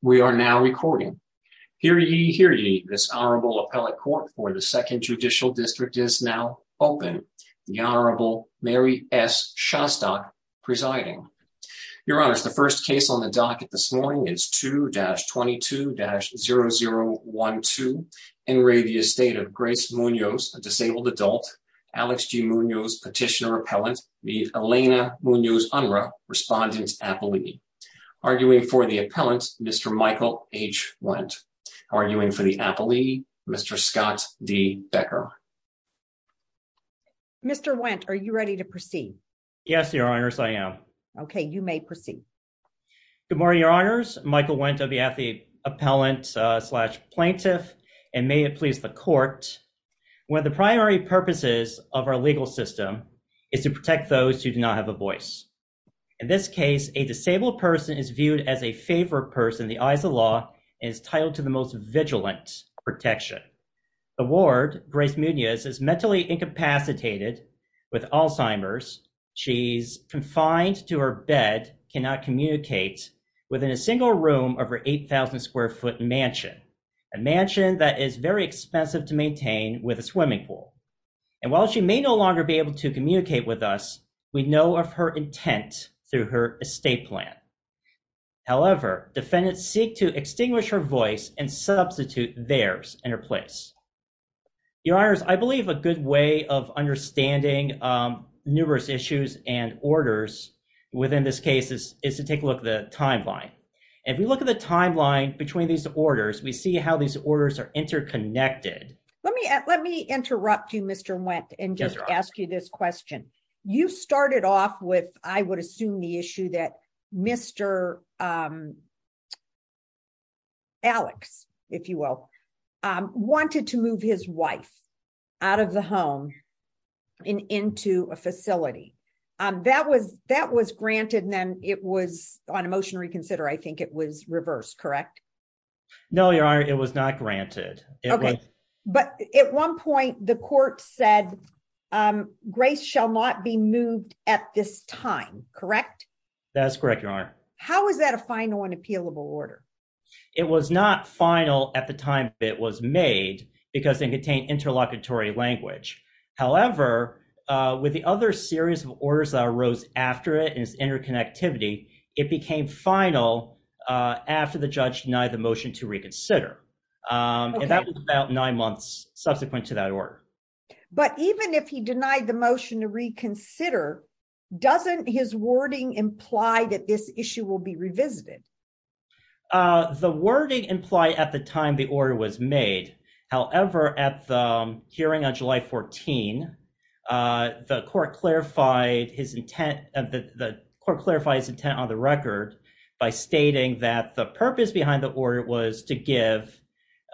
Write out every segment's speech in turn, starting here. We are now recording. Hear ye, hear ye, this Honorable Appellate Court for the Second Judicial District is now open. The Honorable Mary S. Szostak presiding. Your Honors, the first case on the docket this morning is 2-22-0012, Enrabius State of Grace Munoz, a disabled adult, Alex G. Munoz, Petitioner Appellant, the Elena Munoz Unruh, Respondent Appellee. Arguing for the Appellant, Mr. Michael H. Wendt. Arguing for the Appellee, Mr. Scott D. Becker. Mr. Wendt, are you ready to proceed? Yes, Your Honors, I am. Okay, you may proceed. Good morning, Your Honors. Michael Wendt on behalf of the Appellant-slash-Plaintiff, and may it please the Court, one of the primary purposes of our legal system is to protect those who do not have a voice. In this case, a disabled person is viewed as a favored person in the eyes of law and is titled to the most vigilant protection. The ward, Grace Munoz, is mentally incapacitated with Alzheimer's. She's confined to her bed, cannot communicate within a single room of her 8,000-square-foot mansion, a mansion that is very expensive to maintain with a swimming pool. And while she may no longer be able to communicate with us, we know of her intent through her estate plan. However, defendants seek to extinguish her voice and substitute theirs in her place. Your Honors, I believe a good way of understanding numerous issues and orders within this case is to take a look at the timeline. If we look at the timeline between these orders, we see how these orders are interconnected. Let me interrupt you, Mr. Wendt, and just ask you this question. You started off with, I would assume, the issue that Mr. Alex, if you will, wanted to move his wife out of the home and into a facility. That was granted and then it was, on a motion to reconsider, I think it was reversed, correct? No, Your Honor, it was not granted. Okay, but at one point the court said Grace shall not be moved at this time, correct? That's correct, Your Honor. How is that a final unappealable order? It was not final at the time it was made because it contained interlocutory language. However, with the other series of orders that arose after it and its interconnectivity, it became final after the judge denied the motion to reconsider. And that was about nine months subsequent to that order. But even if he denied the motion to reconsider, doesn't his wording imply that this issue will be revisited? The wording implied at the time the order was made. However, at the hearing on July 14, the court clarified his intent, the court clarified his intent on the record by stating that the purpose behind the order was to give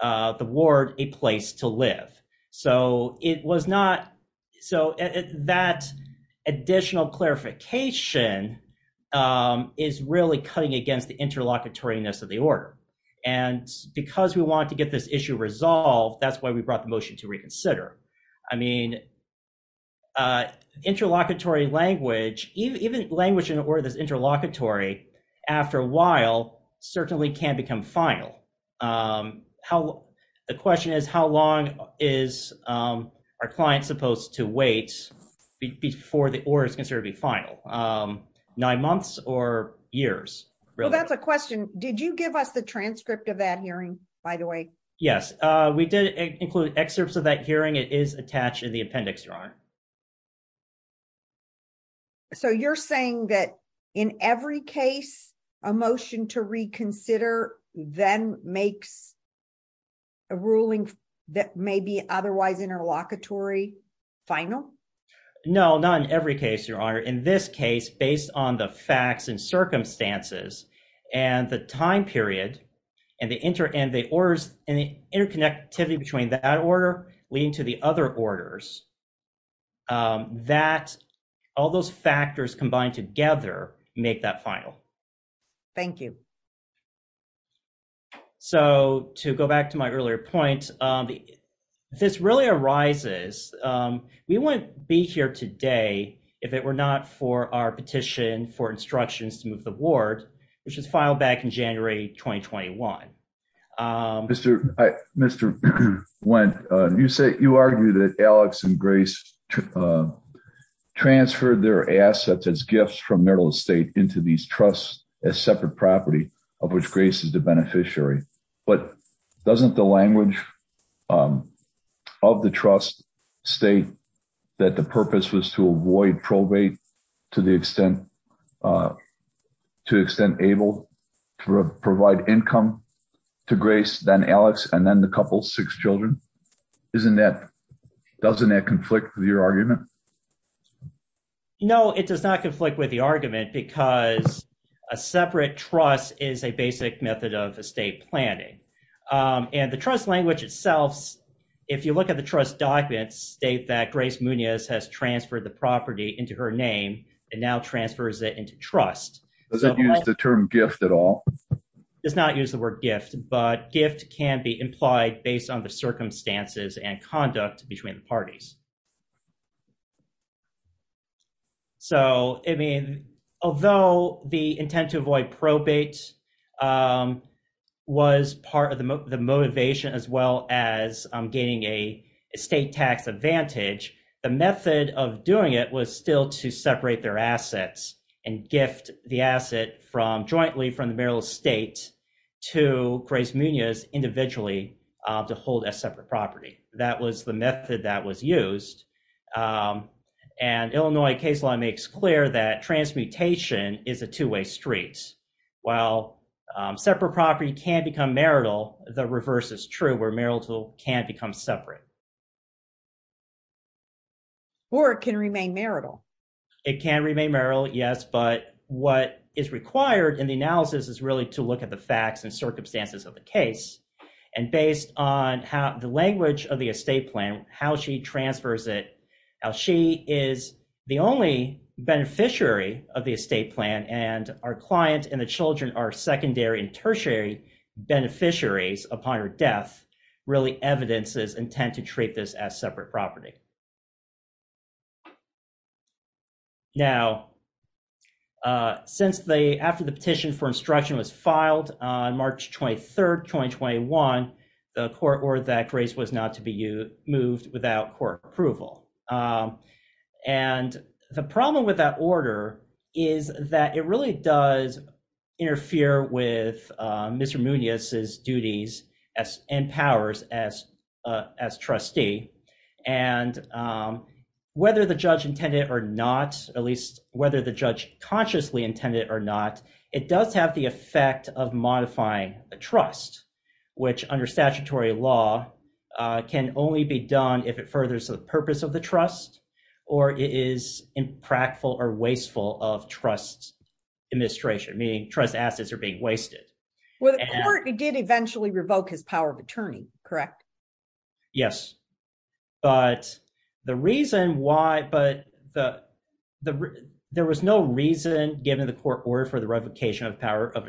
the ward a place to live. So it was not, so that additional clarification is really cutting against the interlocutoriness of the order. And because we want to get this issue resolved, that's why we brought the motion to reconsider. I mean, interlocutory language, even language in order that's interlocutory after a while certainly can become final. The question is, how long is our client supposed to wait before the order is considered to be final? Nine months or years? Well, that's a question. Did you give us the transcript of that hearing, by the way? Yes, we did include excerpts of that hearing. It is attached in the appendix, Your Honor. So you're saying that in every case a motion to reconsider then makes a ruling that may be otherwise interlocutory final? No, not in every case, Your Honor. In this case, based on the facts and circumstances and the time period and the interconnectivity between that orders, all those factors combined together make that final. Thank you. So to go back to my earlier point, we wouldn't be here today if it were not for our petition for instructions to move the ward, which was filed back in January 2021. Mr. Wendt, you argue that Alex and Grace transferred their assets as gifts from Merrill Estate into these trusts as separate property of which Grace is the beneficiary. But doesn't the language of the trust state that the purpose was to avoid probate to the extent able to provide income to Grace, then Alex, and then the couple, six children? Doesn't that conflict with your argument? No, it does not conflict with the argument because a separate trust is a basic method of estate planning. And the trust language itself, if you look at the trust documents, state that Grace Munoz has transferred the property into her name and now transfers it into trust. Does it use the term gift at all? Does not use the word gift, but gift can be implied based on the circumstances and conduct between the parties. So, I mean, although the intent to avoid probate was part of the motivation, as well as gaining a estate tax advantage, the method of doing it was still to separate their assets and gift the asset from jointly from the Merrill Estate to Grace Munoz individually to hold a separate property. That was the method that was used. And Illinois case law makes clear that transmutation is a two-way street. While separate property can become marital, the reverse is true where marital can become separate. Or it can remain marital. It can remain marital, yes, but what is required in the analysis is really to look at the facts and circumstances of the case. And based on how the language of the estate plan, how she transfers it, how she is the only beneficiary of the estate plan and our client and the children are secondary and tertiary beneficiaries upon her death, really evidences intent to treat this as separate property. Now, since after the petition for instruction was filed on March 23rd, 2021, the court ordered that Grace was not to be moved without court approval. And the problem with that order is that it really does interfere with Mr. Munoz's duties and powers as trustee. And whether the judge intended or not, at least whether the judge consciously intended or not, it does have the effect of modifying a trust, which under statutory law can only be done if it furthers the purpose of the trust or it is impractical or wasteful of trust administration, meaning trust assets are being wasted. Well, the court did eventually revoke his power of attorney, correct? Yes, but the reason why, but there was no reason given the court order for the revocation of power of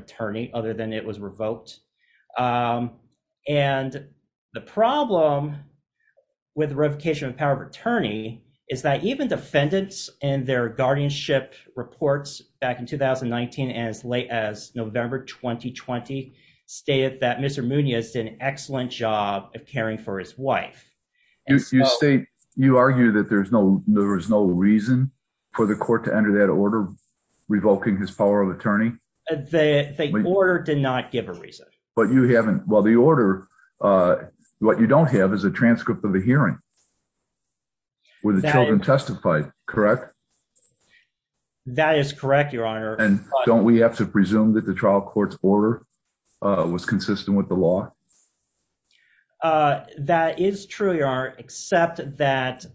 is that even defendants and their guardianship reports back in 2019 and as late as November 2020 stated that Mr. Munoz did an excellent job of caring for his wife. You state, you argue that there's no, there was no reason for the court to enter that order revoking his power of attorney. The order did not give a reason. But you haven't, well, the order, uh, what you don't have is a transcript of the hearing where the children testified, correct? That is correct, your honor. And don't we have to presume that the trial court's order was consistent with the law? Uh, that is true, your honor, except that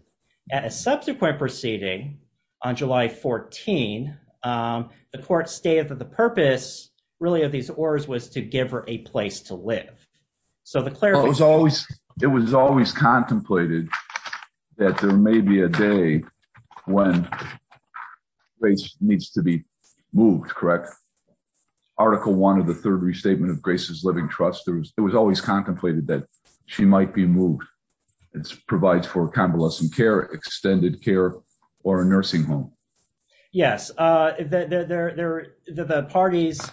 at a subsequent proceeding on July 14, um, the court stated that the purpose really of these orders was to give her a place to stay. It was always contemplated that there may be a day when Grace needs to be moved, correct? Article one of the third restatement of Grace's living trust, there was, it was always contemplated that she might be moved. It's provides for convalescent care, extended care or a nursing home. Yes. Uh, there, there, there, the parties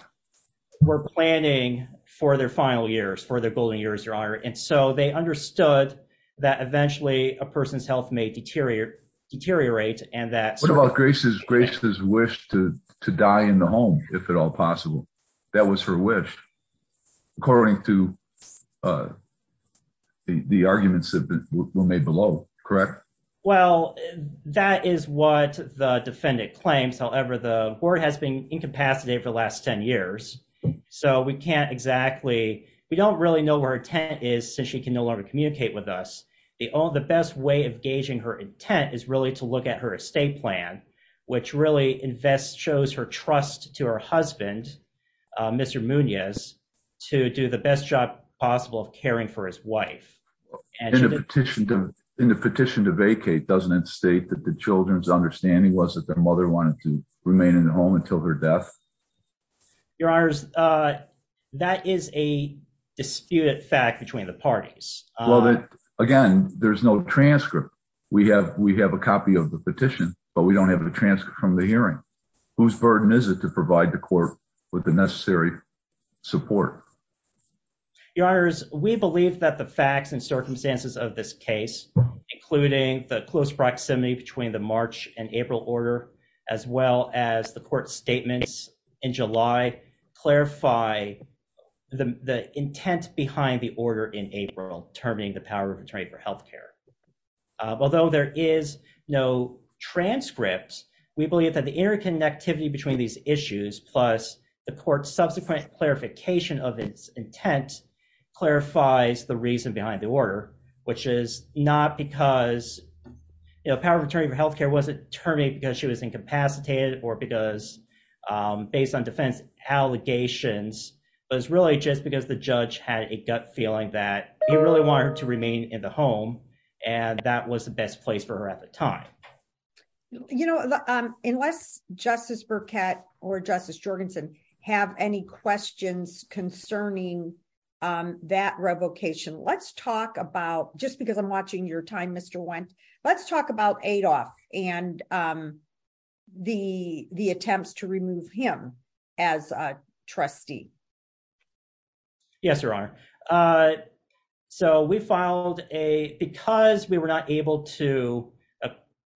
were planning for their final years, for their building years, your honor. And so they understood that eventually a person's health may deteriorate deteriorate and that. What about Grace's wish to die in the home, if at all possible, that was her wish, according to, uh, the arguments that were made below, correct? Well, that is what the defendant claims. However, the board has been incapacitated for the last 10 years. So we can't exactly, we don't really know where her intent is since she can no longer communicate with us. They all, the best way of gauging her intent is really to look at her estate plan, which really invests, shows her trust to her husband, uh, Mr. Munoz to do the best job of caring for his wife. And in the petition to, in the petition to vacate, doesn't it state that the children's understanding was that their mother wanted to remain in the home until her death? Your honors, uh, that is a disputed fact between the parties. Well, again, there's no transcript. We have, we have a copy of the petition, but we don't have the transcript from the hearing whose burden is it to provide the court with the necessary support. Your honors, we believe that the facts and circumstances of this case, including the close proximity between the March and April order, as well as the court statements in July, clarify the intent behind the order in April, determining the power of attorney for healthcare. Uh, although there is no transcripts, we believe that the interconnectivity between these issues, plus the court's subsequent clarification of its intent clarifies the reason behind the order, which is not because, you know, power of attorney for healthcare wasn't terminated because she was incapacitated or because, um, based on defense allegations, but it's really just because the judge had a gut feeling that he really wanted to remain in the or justice Jorgensen have any questions concerning, um, that revocation let's talk about, just because I'm watching your time, Mr. Went, let's talk about Adolf and, um, the, the attempts to remove him as a trustee. Yes, your honor. Uh, so we filed a, because we were not able to a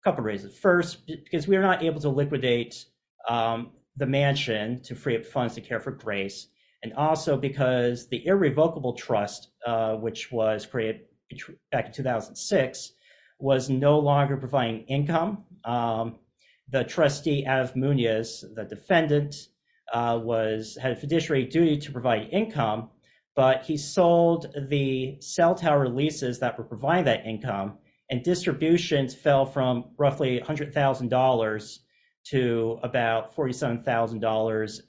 couple of reasons first, because we are not able to liquidate, um, the mansion to free up funds to care for grace. And also because the irrevocable trust, uh, which was created back in 2006 was no longer providing income. Um, the trustee as Muniz, the defendant, uh, was had a fiduciary duty to provide income, but he sold the cell tower leases that were providing that income and distributions fell from roughly a hundred thousand dollars to about $47,000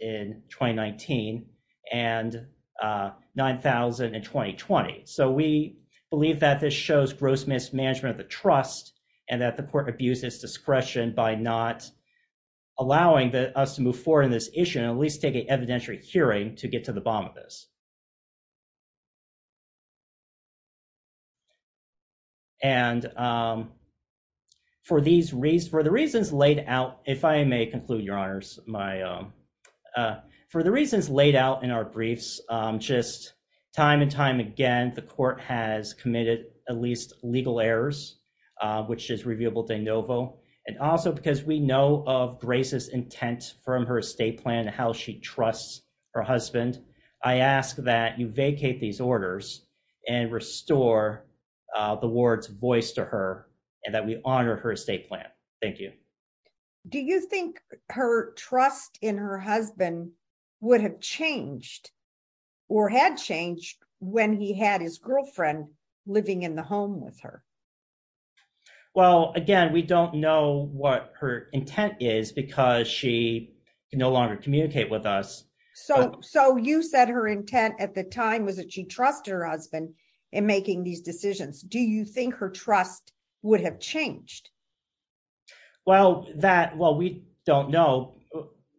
in 2019 and, uh, 9,020. So we believe that this shows gross mismanagement of the trust and that the court abuses discretion by not allowing us to move forward in this issue and at least take an evidentiary hearing to get to the bottom of this. And, um, for these reasons, for the reasons laid out, if I may conclude your honors, my, um, uh, for the reasons laid out in our briefs, um, just time and time again, the court has committed at least legal errors, uh, which is reviewable de novo. And also because we know of grace's intent from her estate plan, how she trusts her husband. I ask that you vacate these orders and restore, uh, the ward's voice to her and that we honor her estate plan. Thank you. Do you think her trust in her husband would have changed or had changed when he had his girlfriend living in the home with her? Well, again, we don't know what her intent is because she can no longer communicate with us. So, so you said her intent at the time was that she trusted her husband in making these decisions. Do you think her trust would have changed? Well, that, well, we don't know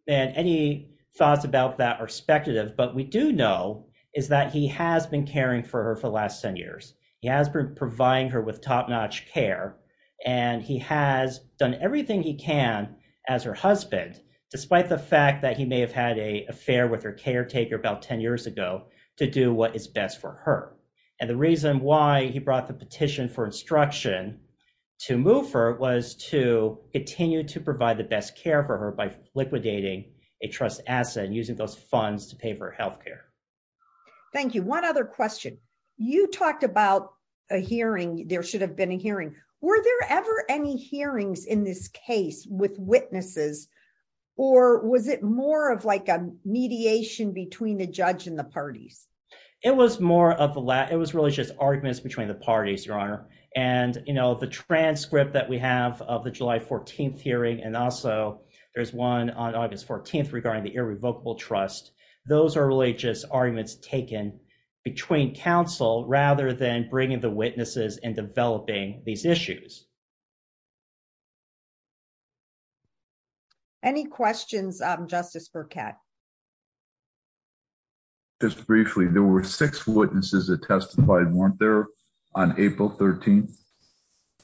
that any thoughts about that are expectative, but we do know is that he has been caring for her for the last 10 years. He has been providing her with top-notch care and he has done everything he can as her husband, despite the fact that he may have had a affair with her caretaker about 10 years ago to do what is best for her. And the reason why he brought the petition for instruction to move her was to continue to provide the best care for her by liquidating a trust asset and using those funds to pay for healthcare. Thank you. One other question. You talked about a hearing. There should have been a hearing. Were there ever any hearings in this between the judge and the parties? It was more of the last, it was really just arguments between the parties, your honor. And, you know, the transcript that we have of the July 14th hearing, and also there's one on August 14th regarding the irrevocable trust. Those are really just arguments taken between counsel rather than bringing the witnesses and developing these issues. Any questions, Justice Burkett? Just briefly, there were six witnesses that testified, weren't there, on April 13th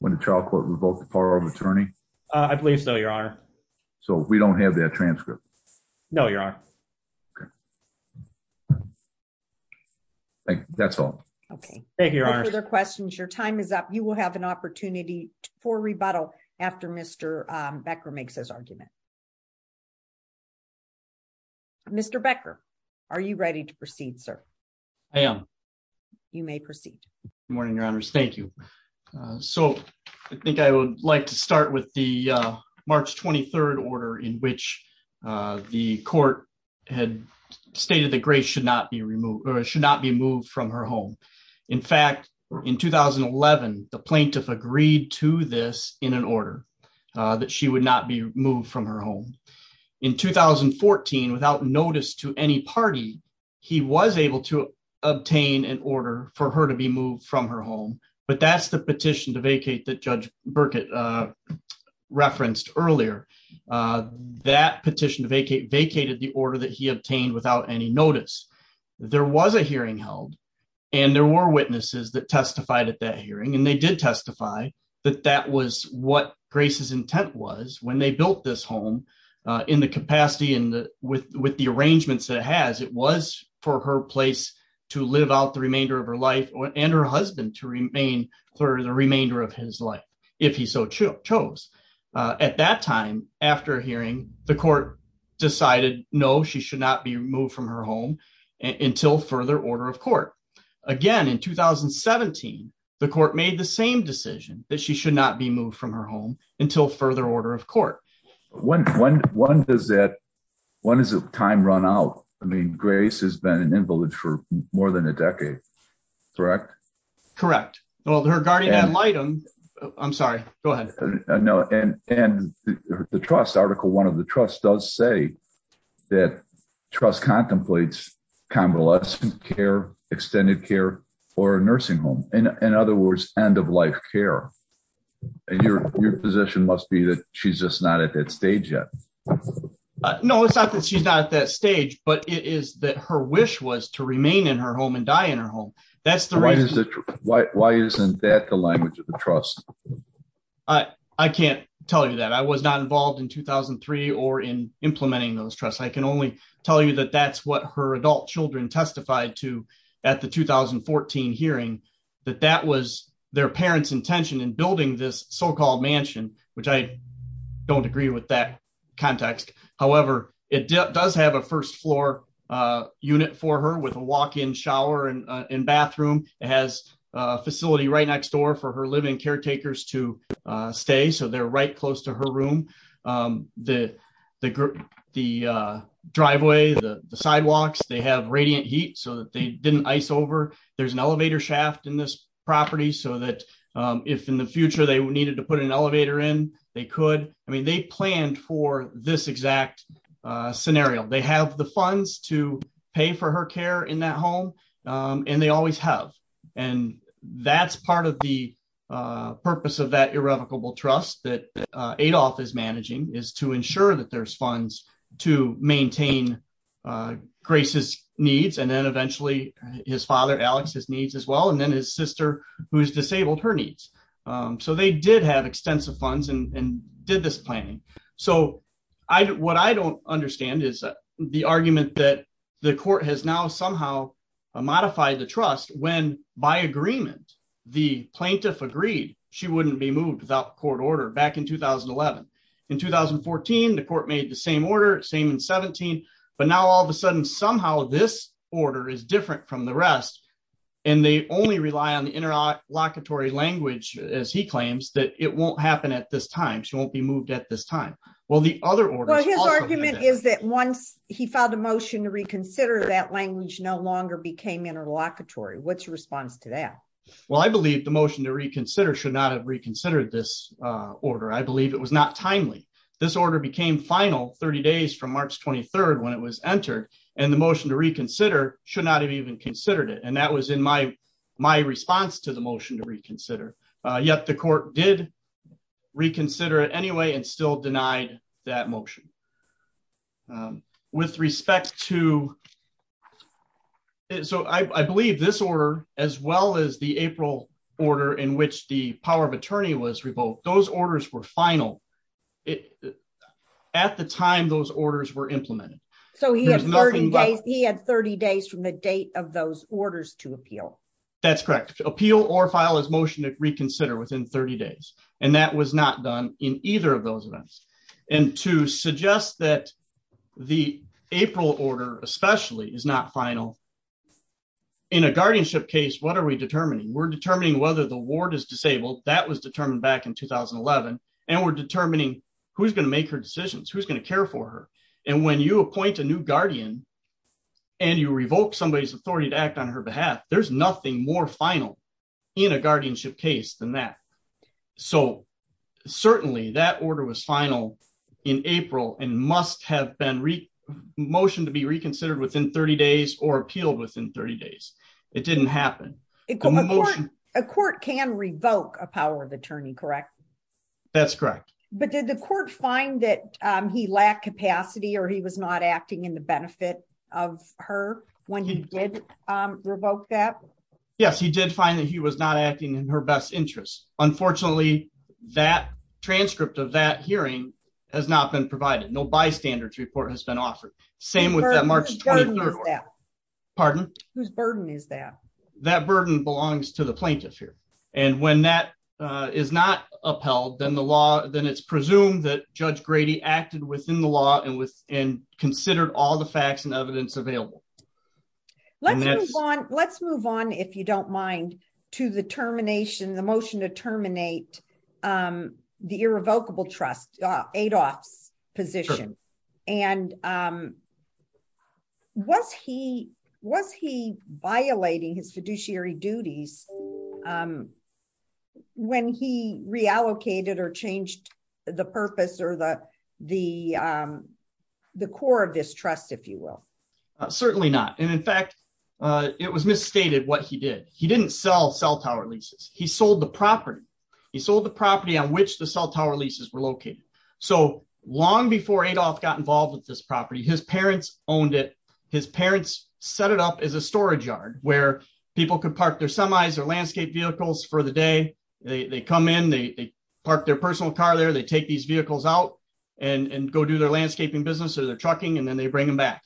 when the trial court revoked the power of attorney? I believe so, your honor. So we don't have that transcript? No, your honor. Okay. Thank you. That's all. Okay. Thank you, your honor. No further questions. Your time is up. You will have an opportunity to ask questions. For rebuttal after Mr. Becker makes his argument. Mr. Becker, are you ready to proceed, sir? I am. You may proceed. Good morning, your honors. Thank you. So I think I would like to start with the March 23rd order in which the court had stated that Grace should not be removed or should not be moved from her home. In fact, in 2011, the plaintiff agreed to this in an order that she would not be moved from her home. In 2014, without notice to any party, he was able to obtain an order for her to be moved from her home. But that's the petition to vacate that Judge Burkett referenced earlier. That petition vacated the order that he obtained without any notice. There was a hearing held, and there were witnesses that testified at that hearing. And they did testify that that was what Grace's intent was when they built this home in the capacity and with the arrangements that it has, it was for her place to live out the remainder of her life and her husband to remain for the remainder of his life, if he so chose. At that time, after a hearing, the court decided, no, she should not be removed from her home until further order of court. Again, in 2017, the court made the same decision that she should not be moved from her home until further order of court. When does that, when does the time run out? I mean, Grace has been in In-Village for more than a decade, correct? Correct. Well, her guardian ad litem, I'm sorry, go ahead. No, and the trust, article one of the trust does say that trust contemplates convalescent care, extended care for a nursing home. In other words, end of life care. And your position must be that she's just not at that stage yet. No, it's not that she's not at that stage, but it is that her wish was to remain in her home and die in her home. Why isn't that the language of the trust? I can't tell you that. I was not involved in 2003 or in implementing those trusts. I can only tell you that that's what her adult children testified to at the 2014 hearing, that that was their parents' intention in building this so-called mansion, which I don't agree with that in bathroom. It has a facility right next door for her living caretakers to stay. So they're right close to her room. The driveway, the sidewalks, they have radiant heat so that they didn't ice over. There's an elevator shaft in this property so that if in the future they needed to put an elevator in, they could. I mean, they planned for this exact scenario. They have the funds to pay for her care in that home, and they always have. And that's part of the purpose of that irrevocable trust that Adolph is managing, is to ensure that there's funds to maintain Grace's needs, and then eventually his father Alex's needs as well, and then his sister who's disabled her needs. So they did have extensive funds and did this planning. So what I don't understand is the argument that the court has now somehow modified the trust when by agreement the plaintiff agreed she wouldn't be moved without court order back in 2011. In 2014, the court made the same order, same in 17, but now all of a sudden somehow this order is different from the rest, and they only rely on the interlocutory language, as he claims, that it won't happen at this time. She won't be moved at this time. Well, the other order is that once he filed a motion to reconsider, that language no longer became interlocutory. What's your response to that? Well, I believe the motion to reconsider should not have reconsidered this order. I believe it was not timely. This order became final 30 days from March 23rd when it was entered, and the motion to reconsider should not have even considered it. And that was in my response to the motion to reconsider it anyway and still denied that motion. With respect to... So I believe this order, as well as the April order in which the power of attorney was revoked, those orders were final. At the time those orders were implemented. So he had 30 days from the date of those orders to appeal? That's correct. Appeal or file his motion to reconsider within 30 days. And that was not done in either of those events. And to suggest that the April order especially is not final, in a guardianship case, what are we determining? We're determining whether the ward is disabled. That was determined back in 2011. And we're determining who's going to make her decisions, who's going to care for her. And when you appoint a new guardian and you revoke somebody's authority to act on her behalf, there's nothing more final in a guardianship case than that. So certainly that order was final in April and must have been motioned to be reconsidered within 30 days or appealed within 30 days. It didn't happen. A court can revoke a power of attorney, correct? That's correct. But did the court find that he lacked capacity or he was not acting in the benefit of her when he did revoke that? Yes, he did find that he was not acting in her best interest. Unfortunately, that transcript of that hearing has not been provided. No bystanders report has been offered. Same with that March 23rd. Pardon? Whose burden is that? That burden belongs to the plaintiff here. And when that is not upheld, then it's presumed that Judge Grady acted within the law and considered all the facts and evidence available. Let's move on, if you don't mind, to the termination, the motion to terminate the irrevocable trust, Adolph's position. And was he violating his fiduciary duties when he reallocated or changed the purpose or the core of this trust, if you will? Certainly not. And in fact, it was misstated what he did. He didn't sell cell tower leases. He sold the property. He sold the property on which the cell tower leases were located. So long before Adolph got involved with this property, his parents owned it. His parents set it up as a storage yard where people could park their semis or landscape vehicles for the day. They come in, they park their personal car there, they take these vehicles out and go do their landscaping business or their trucking, and then they bring them back.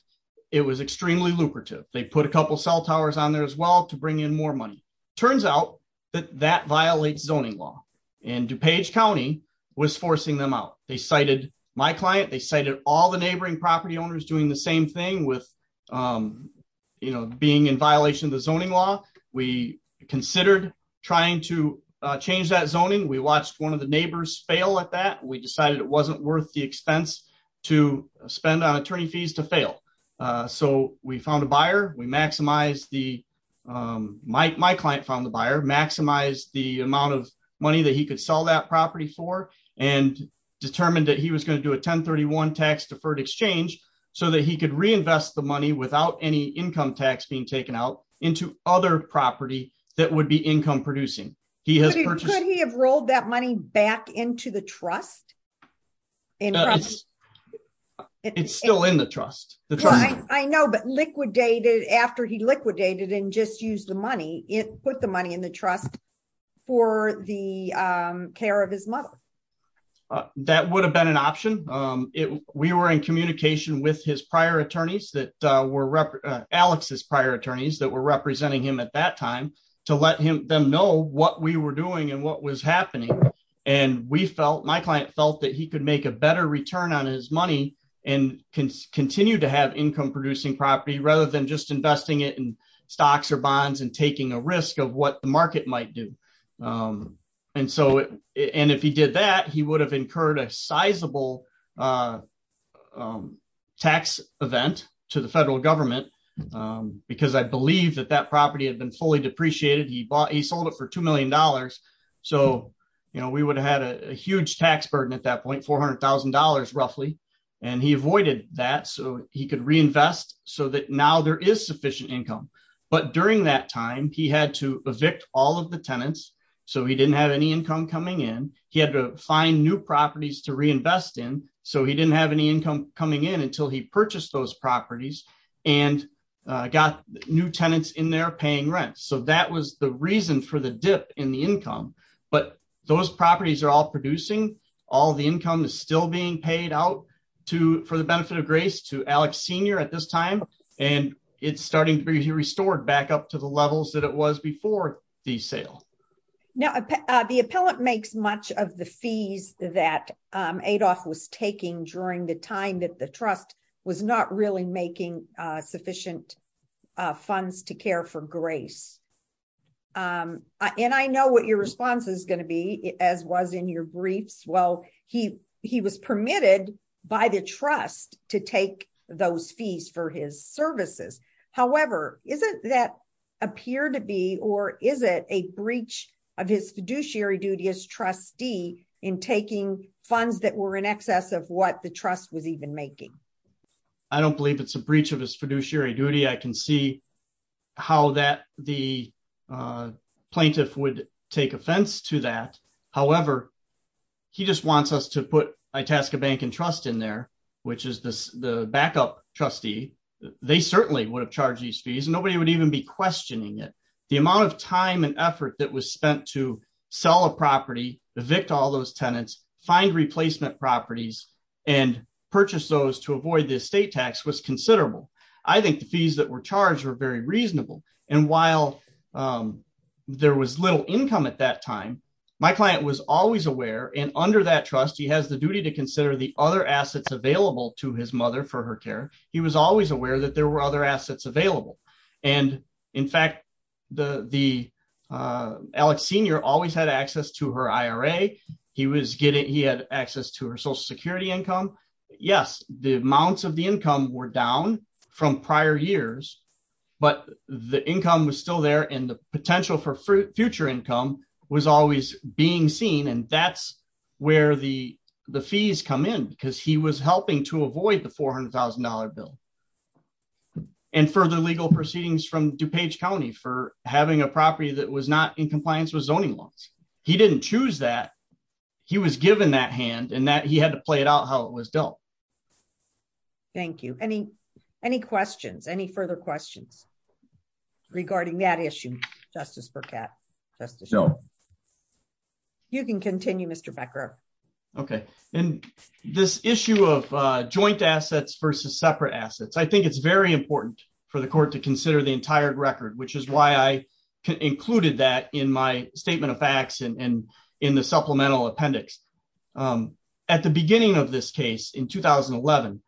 It was extremely lucrative. They put a couple cell towers on there as well to bring in more money. Turns out that that violates zoning law. And DuPage County was forcing them out. They cited my client, they cited all the neighboring property owners doing the same thing with being in violation of the zoning law. We considered trying to change that zoning. We watched one of the neighbors fail at that. We decided it wasn't worth the expense to spend on attorney fees to fail. So we found a buyer. We maximized the, my client found the buyer, maximized the amount of money that he could sell that property for and determined that he was going to do a 1031 tax deferred exchange so that he could reinvest the money without any income tax being taken out into other property that would be income producing. Could he have rolled that money back into the trust? It's still in the trust. I know, but liquidated, after he liquidated and just used the money, it put the money in the trust for the care of his mother. That would have been an option. We were in communication with his prior attorneys that were, Alex's prior attorneys that were we were doing and what was happening. My client felt that he could make a better return on his money and continue to have income producing property rather than just investing it in stocks or bonds and taking a risk of what the market might do. If he did that, he would have incurred a sizable tax event to the federal government because I believe that that property had been fully depreciated. He sold it for $2 million. We would have had a huge tax burden at that point, $400,000 roughly. He avoided that so he could reinvest so that now there is sufficient income. During that time, he had to evict all of the tenants. He didn't have any income coming in. He had to find new properties to reinvest in. He didn't have any income coming in until he so that was the reason for the dip in the income. Those properties are all producing. All the income is still being paid out for the benefit of grace to Alex Sr. at this time. It's starting to be restored back up to the levels that it was before the sale. The appellant makes much of the fees that Adolph was taking during the time that the trust was not really making sufficient funds to care for grace. I know what your response is going to be as was in your briefs. He was permitted by the trust to take those fees for his services. However, is it that appeared to be or is it a breach of his fiduciary duty as trustee in taking funds that were in excess of what the trust was even making? I don't believe it's a breach of his fiduciary duty. I can see how that the plaintiff would take offense to that. However, he just wants us to put Itasca Bank and Trust in there, which is the backup trustee. They certainly would have charged these fees. Nobody would even be questioning it. The amount of time and effort that was spent to sell a property, evict all those tenants, find replacement properties, and purchase those to avoid the estate tax was considerable. I think the fees that were charged were very reasonable. And while there was little income at that time, my client was always aware and under that trust, he has the duty to consider the other assets available to his mother for her care. He was always aware that there were other assets available. In fact, Alex Sr. always had access to her IRA. He had access to her Social Security income. Yes, the amounts of the income were down from prior years, but the income was still there. And the potential for future income was always being seen. And that's where the fees come in because he was helping to avoid the $400,000 bill and further legal proceedings from DuPage County for having a property that was not in compliance with zoning laws. He didn't choose that. He was given that hand and that he had to play it out how it was dealt. Thank you. Any questions? Any further questions regarding that issue, Justice Burkett? No. You can continue, Mr. Becker. Okay. And this issue of joint assets versus separate assets, I think it's very important for the court to consider the entire record, which is why I included that in my statement of facts and in the supplemental appendix. At the beginning of this case in 2011,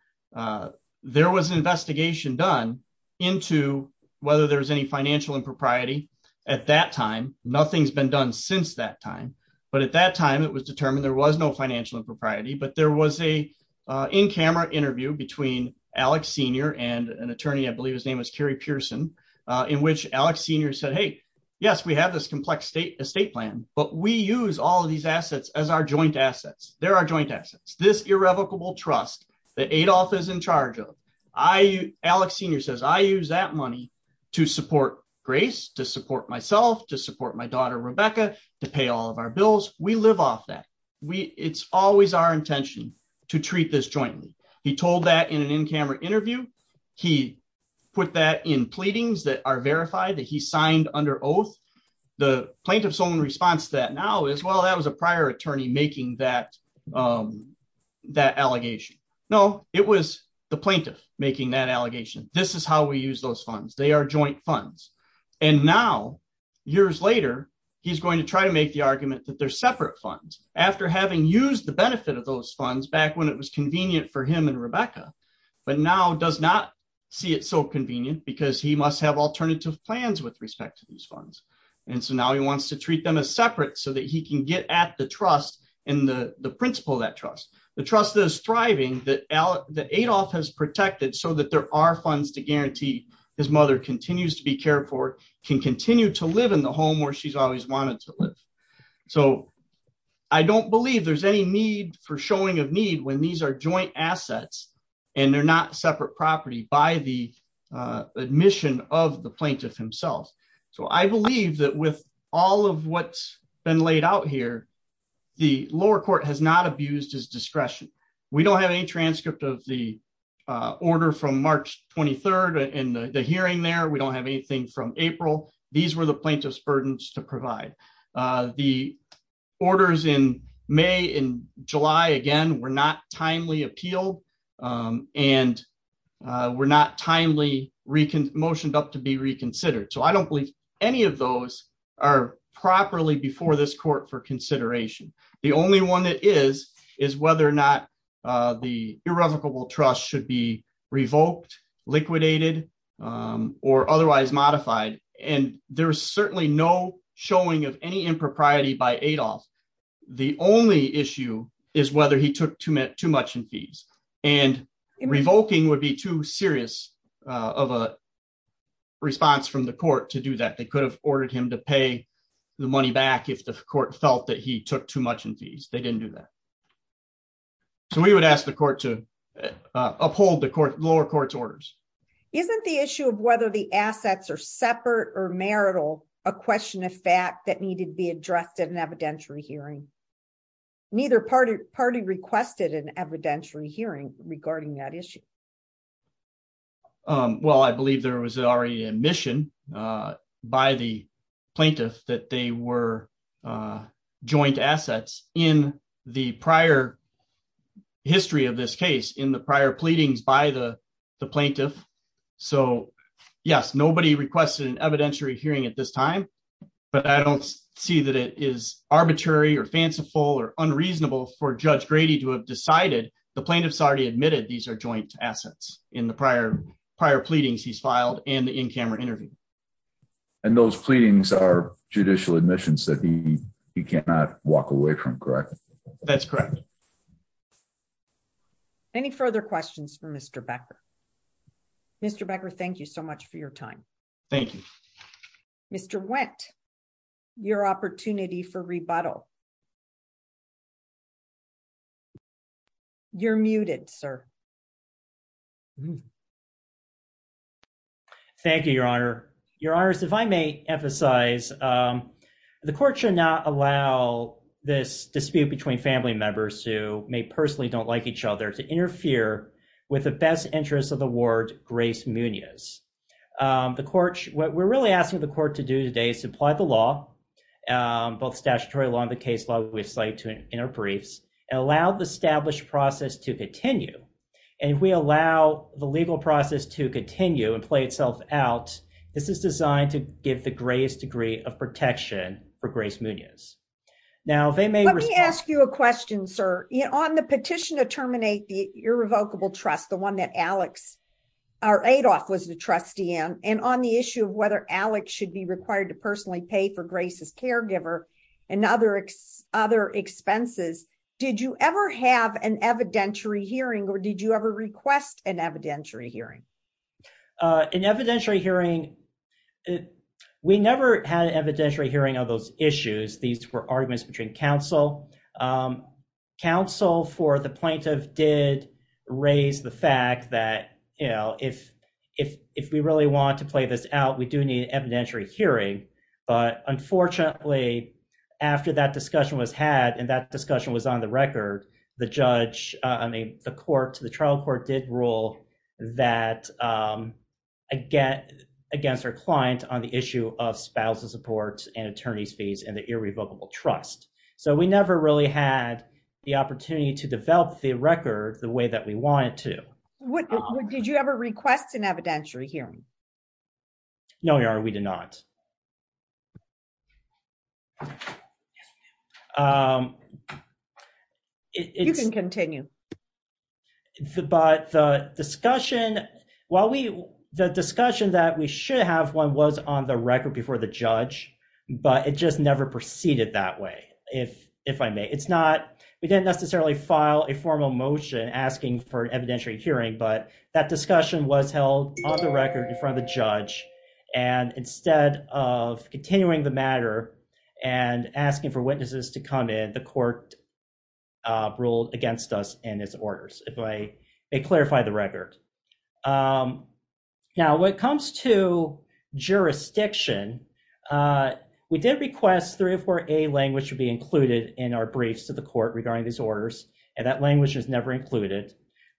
there was an investigation done into whether there was any financial impropriety at that time. Nothing's been done since that time. But at that time, it was determined there was no financial impropriety. In which Alex Senior said, hey, yes, we have this complex estate plan, but we use all of these assets as our joint assets. They're our joint assets, this irrevocable trust that Adolph is in charge of. Alex Senior says, I use that money to support Grace, to support myself, to support my daughter, Rebecca, to pay all of our bills. We live off that. It's always our intention to treat this jointly. He told that in an in-camera interview. He put that in pleadings that are verified that he signed under oath. The plaintiff's own response to that now is, well, that was a prior attorney making that allegation. No, it was the plaintiff making that allegation. This is how we use those funds. They are joint funds. And now, years later, he's going to try to make the argument that they're separate funds. After having used the benefit of those funds back when it was convenient for him and Rebecca, but now does not see it so convenient because he must have alternative plans with respect to these funds. And so now he wants to treat them as separate so that he can get at the trust and the principle of that trust. The trust that is thriving, that Adolph has protected so that there are funds to guarantee his mother continues to be cared for, can continue to live in the home where she's always wanted to live. So I don't believe there's any need for showing of need when these are joint assets and they're not separate property by the admission of the plaintiff himself. So I believe that with all of what's been laid out here, the lower court has not abused his discretion. We don't have any transcript of the order from March 23rd and the hearing there. We don't have anything from April. These were the plaintiff's burdens to provide. The orders in May and July, again, were not timely appeal and were not timely motioned up to be reconsidered. So I don't believe any of those are properly before this court for consideration. The only one that is, is whether or not the irrevocable trust should be revoked, liquidated, or otherwise modified. And there's certainly no showing of any impropriety by Adolph. The only issue is whether he took too much in fees and revoking would be too serious of a response from the court to do that. They could have ordered him to pay the money back if the court felt that he took too much in fees. They didn't do that. So we would ask the court to uphold the lower court's orders. Isn't the issue of whether the assets are separate or marital a question of fact that needed to be addressed in an evidentiary hearing? Neither party requested an evidentiary hearing regarding that issue. Well, I believe there was already admission by the plaintiff that they were joint assets in the prior history of this case in the prior pleadings by the plaintiff. So yes, nobody requested an evidentiary hearing at this time, but I don't see that it is arbitrary or fanciful or unreasonable for judge Grady to have decided the plaintiff's already admitted these are joint assets in the prior prior pleadings he's filed and the in-camera interview. And those pleadings are judicial admissions that he cannot walk away from, correct? That's correct. Any further questions for Mr. Becker? Mr. Becker, thank you so much for your time. Thank you. Mr. Wendt, your opportunity for rebuttal. You're muted, sir. Thank you, Your Honor. Your Honors, if I may emphasize, the court should not allow this dispute between family members who may personally don't like each other to interfere with the best interest of the ward, Grace Munoz. The court, what we're really asking the court to do today is apply the law, both statutory law and the case law we've cited in our briefs, and allow the process to continue. And if we allow the legal process to continue and play itself out, this is designed to give the greatest degree of protection for Grace Munoz. Now, they may- Let me ask you a question, sir. On the petition to terminate the irrevocable trust, the one that Alex, or Adolph was the trustee in, and on the issue of whether Alex should be an evidentiary hearing, or did you ever request an evidentiary hearing? An evidentiary hearing, we never had an evidentiary hearing on those issues. These were arguments between counsel. Counsel for the plaintiff did raise the fact that, you know, if we really want to play this out, we do need an evidentiary hearing. But unfortunately, after that discussion was had, and that discussion was on the record, the judge, I mean, the court, the trial court did rule that against our client on the issue of spousal support and attorney's fees and the irrevocable trust. So we never really had the opportunity to develop the record the way that we wanted to. Did you ever request an evidentiary hearing? No, Your Honor, we did not. You can continue. But the discussion that we should have, one was on the record before the judge, but it just never proceeded that way, if I may. We didn't necessarily file a formal motion asking for an evidentiary hearing, but that discussion was held on the record in front of the judge. And instead of continuing the matter and asking for witnesses to come in, the court ruled against us in its orders, if I may clarify the record. Now, when it comes to jurisdiction, we did request 304A language to be included in our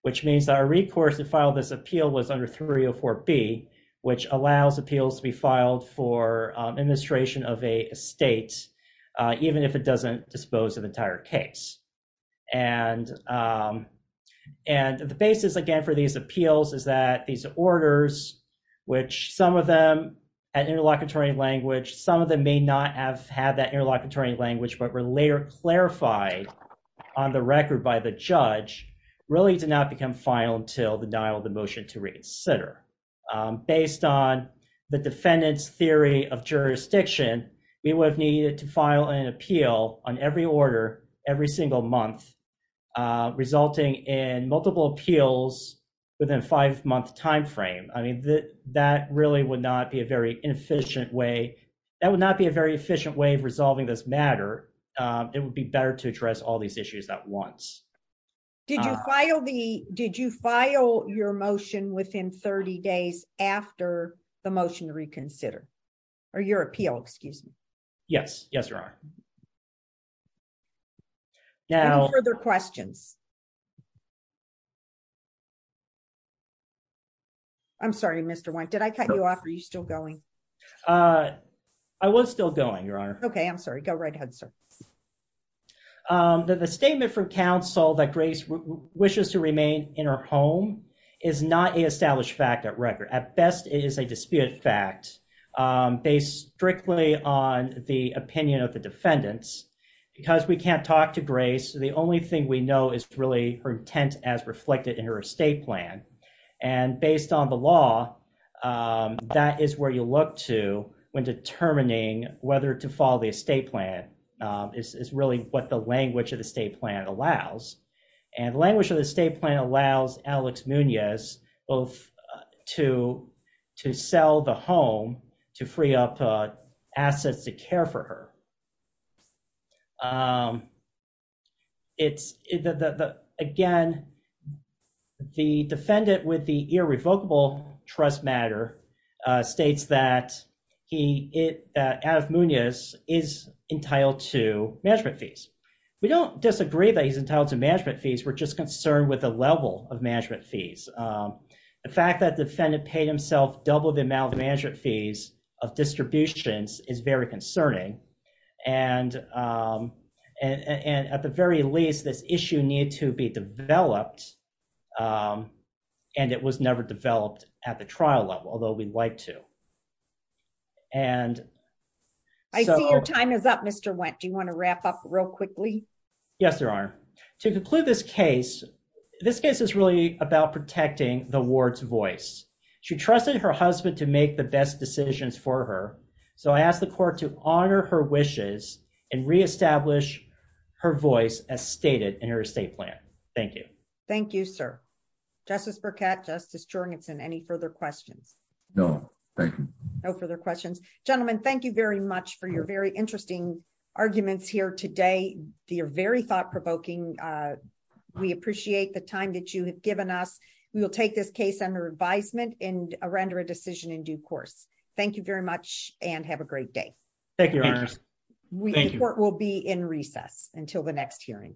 which means that our recourse to file this appeal was under 304B, which allows appeals to be filed for administration of a state, even if it doesn't dispose of the entire case. And the basis, again, for these appeals is that these orders, which some of them had interlocutory language, some of them may not have had that interlocutory language, but were later clarified on the record by the judge, really did not become final until the denial of the motion to reconsider. Based on the defendant's theory of jurisdiction, we would have needed to file an appeal on every order, every single month, resulting in multiple appeals within a five-month time frame. I mean, that really would not be a efficient way. That would not be a very efficient way of resolving this matter. It would be better to address all these issues at once. Did you file your motion within 30 days after the motion to reconsider? Or your appeal, excuse me. Yes. Yes, there are. Any further questions? I'm sorry, Mr. Wynne. Did I cut you off? Are you still going? I was still going, Your Honor. Okay, I'm sorry. Go right ahead, sir. The statement from counsel that Grace wishes to remain in her home is not a established fact at record. At best, it is a disputed fact, based strictly on the opinion of the defendants. Because we can't talk to Grace, the only thing we know is what happened to her. Her intent is reflected in her estate plan. Based on the law, that is where you look to when determining whether to follow the estate plan. It's really what the language of the estate plan allows. The language of the estate plan allows Alex Munoz to sell the home to free up care for her. Again, the defendant with the irrevocable trust matter states that Alex Munoz is entitled to management fees. We don't disagree that he's entitled to management fees. We're just concerned with the level of management fees. The fact that the defendant paid himself double the amount of management fees of distributions is very concerning. At the very least, this issue needed to be developed, and it was never developed at the trial level, although we'd like to. I see your time is up, Mr. Wendt. Do you want to wrap up real quickly? Yes, Your Honor. To conclude this case, this case is really about protecting the ward's voice. She trusted her husband to make the best decisions for her, so I ask the court to honor her wishes and reestablish her voice as stated in her estate plan. Thank you. Thank you, sir. Justice Burkett, Justice Jorgensen, any further questions? No, thank you. No further questions. Gentlemen, thank you very much for your very interesting arguments here today. They are very thought-provoking. We appreciate the time that you have given us. We will take this case under advisement and render a decision in due course. Thank you very much, and have a great day. Thank you, Your Honor. The court will be in recess until the next hearing.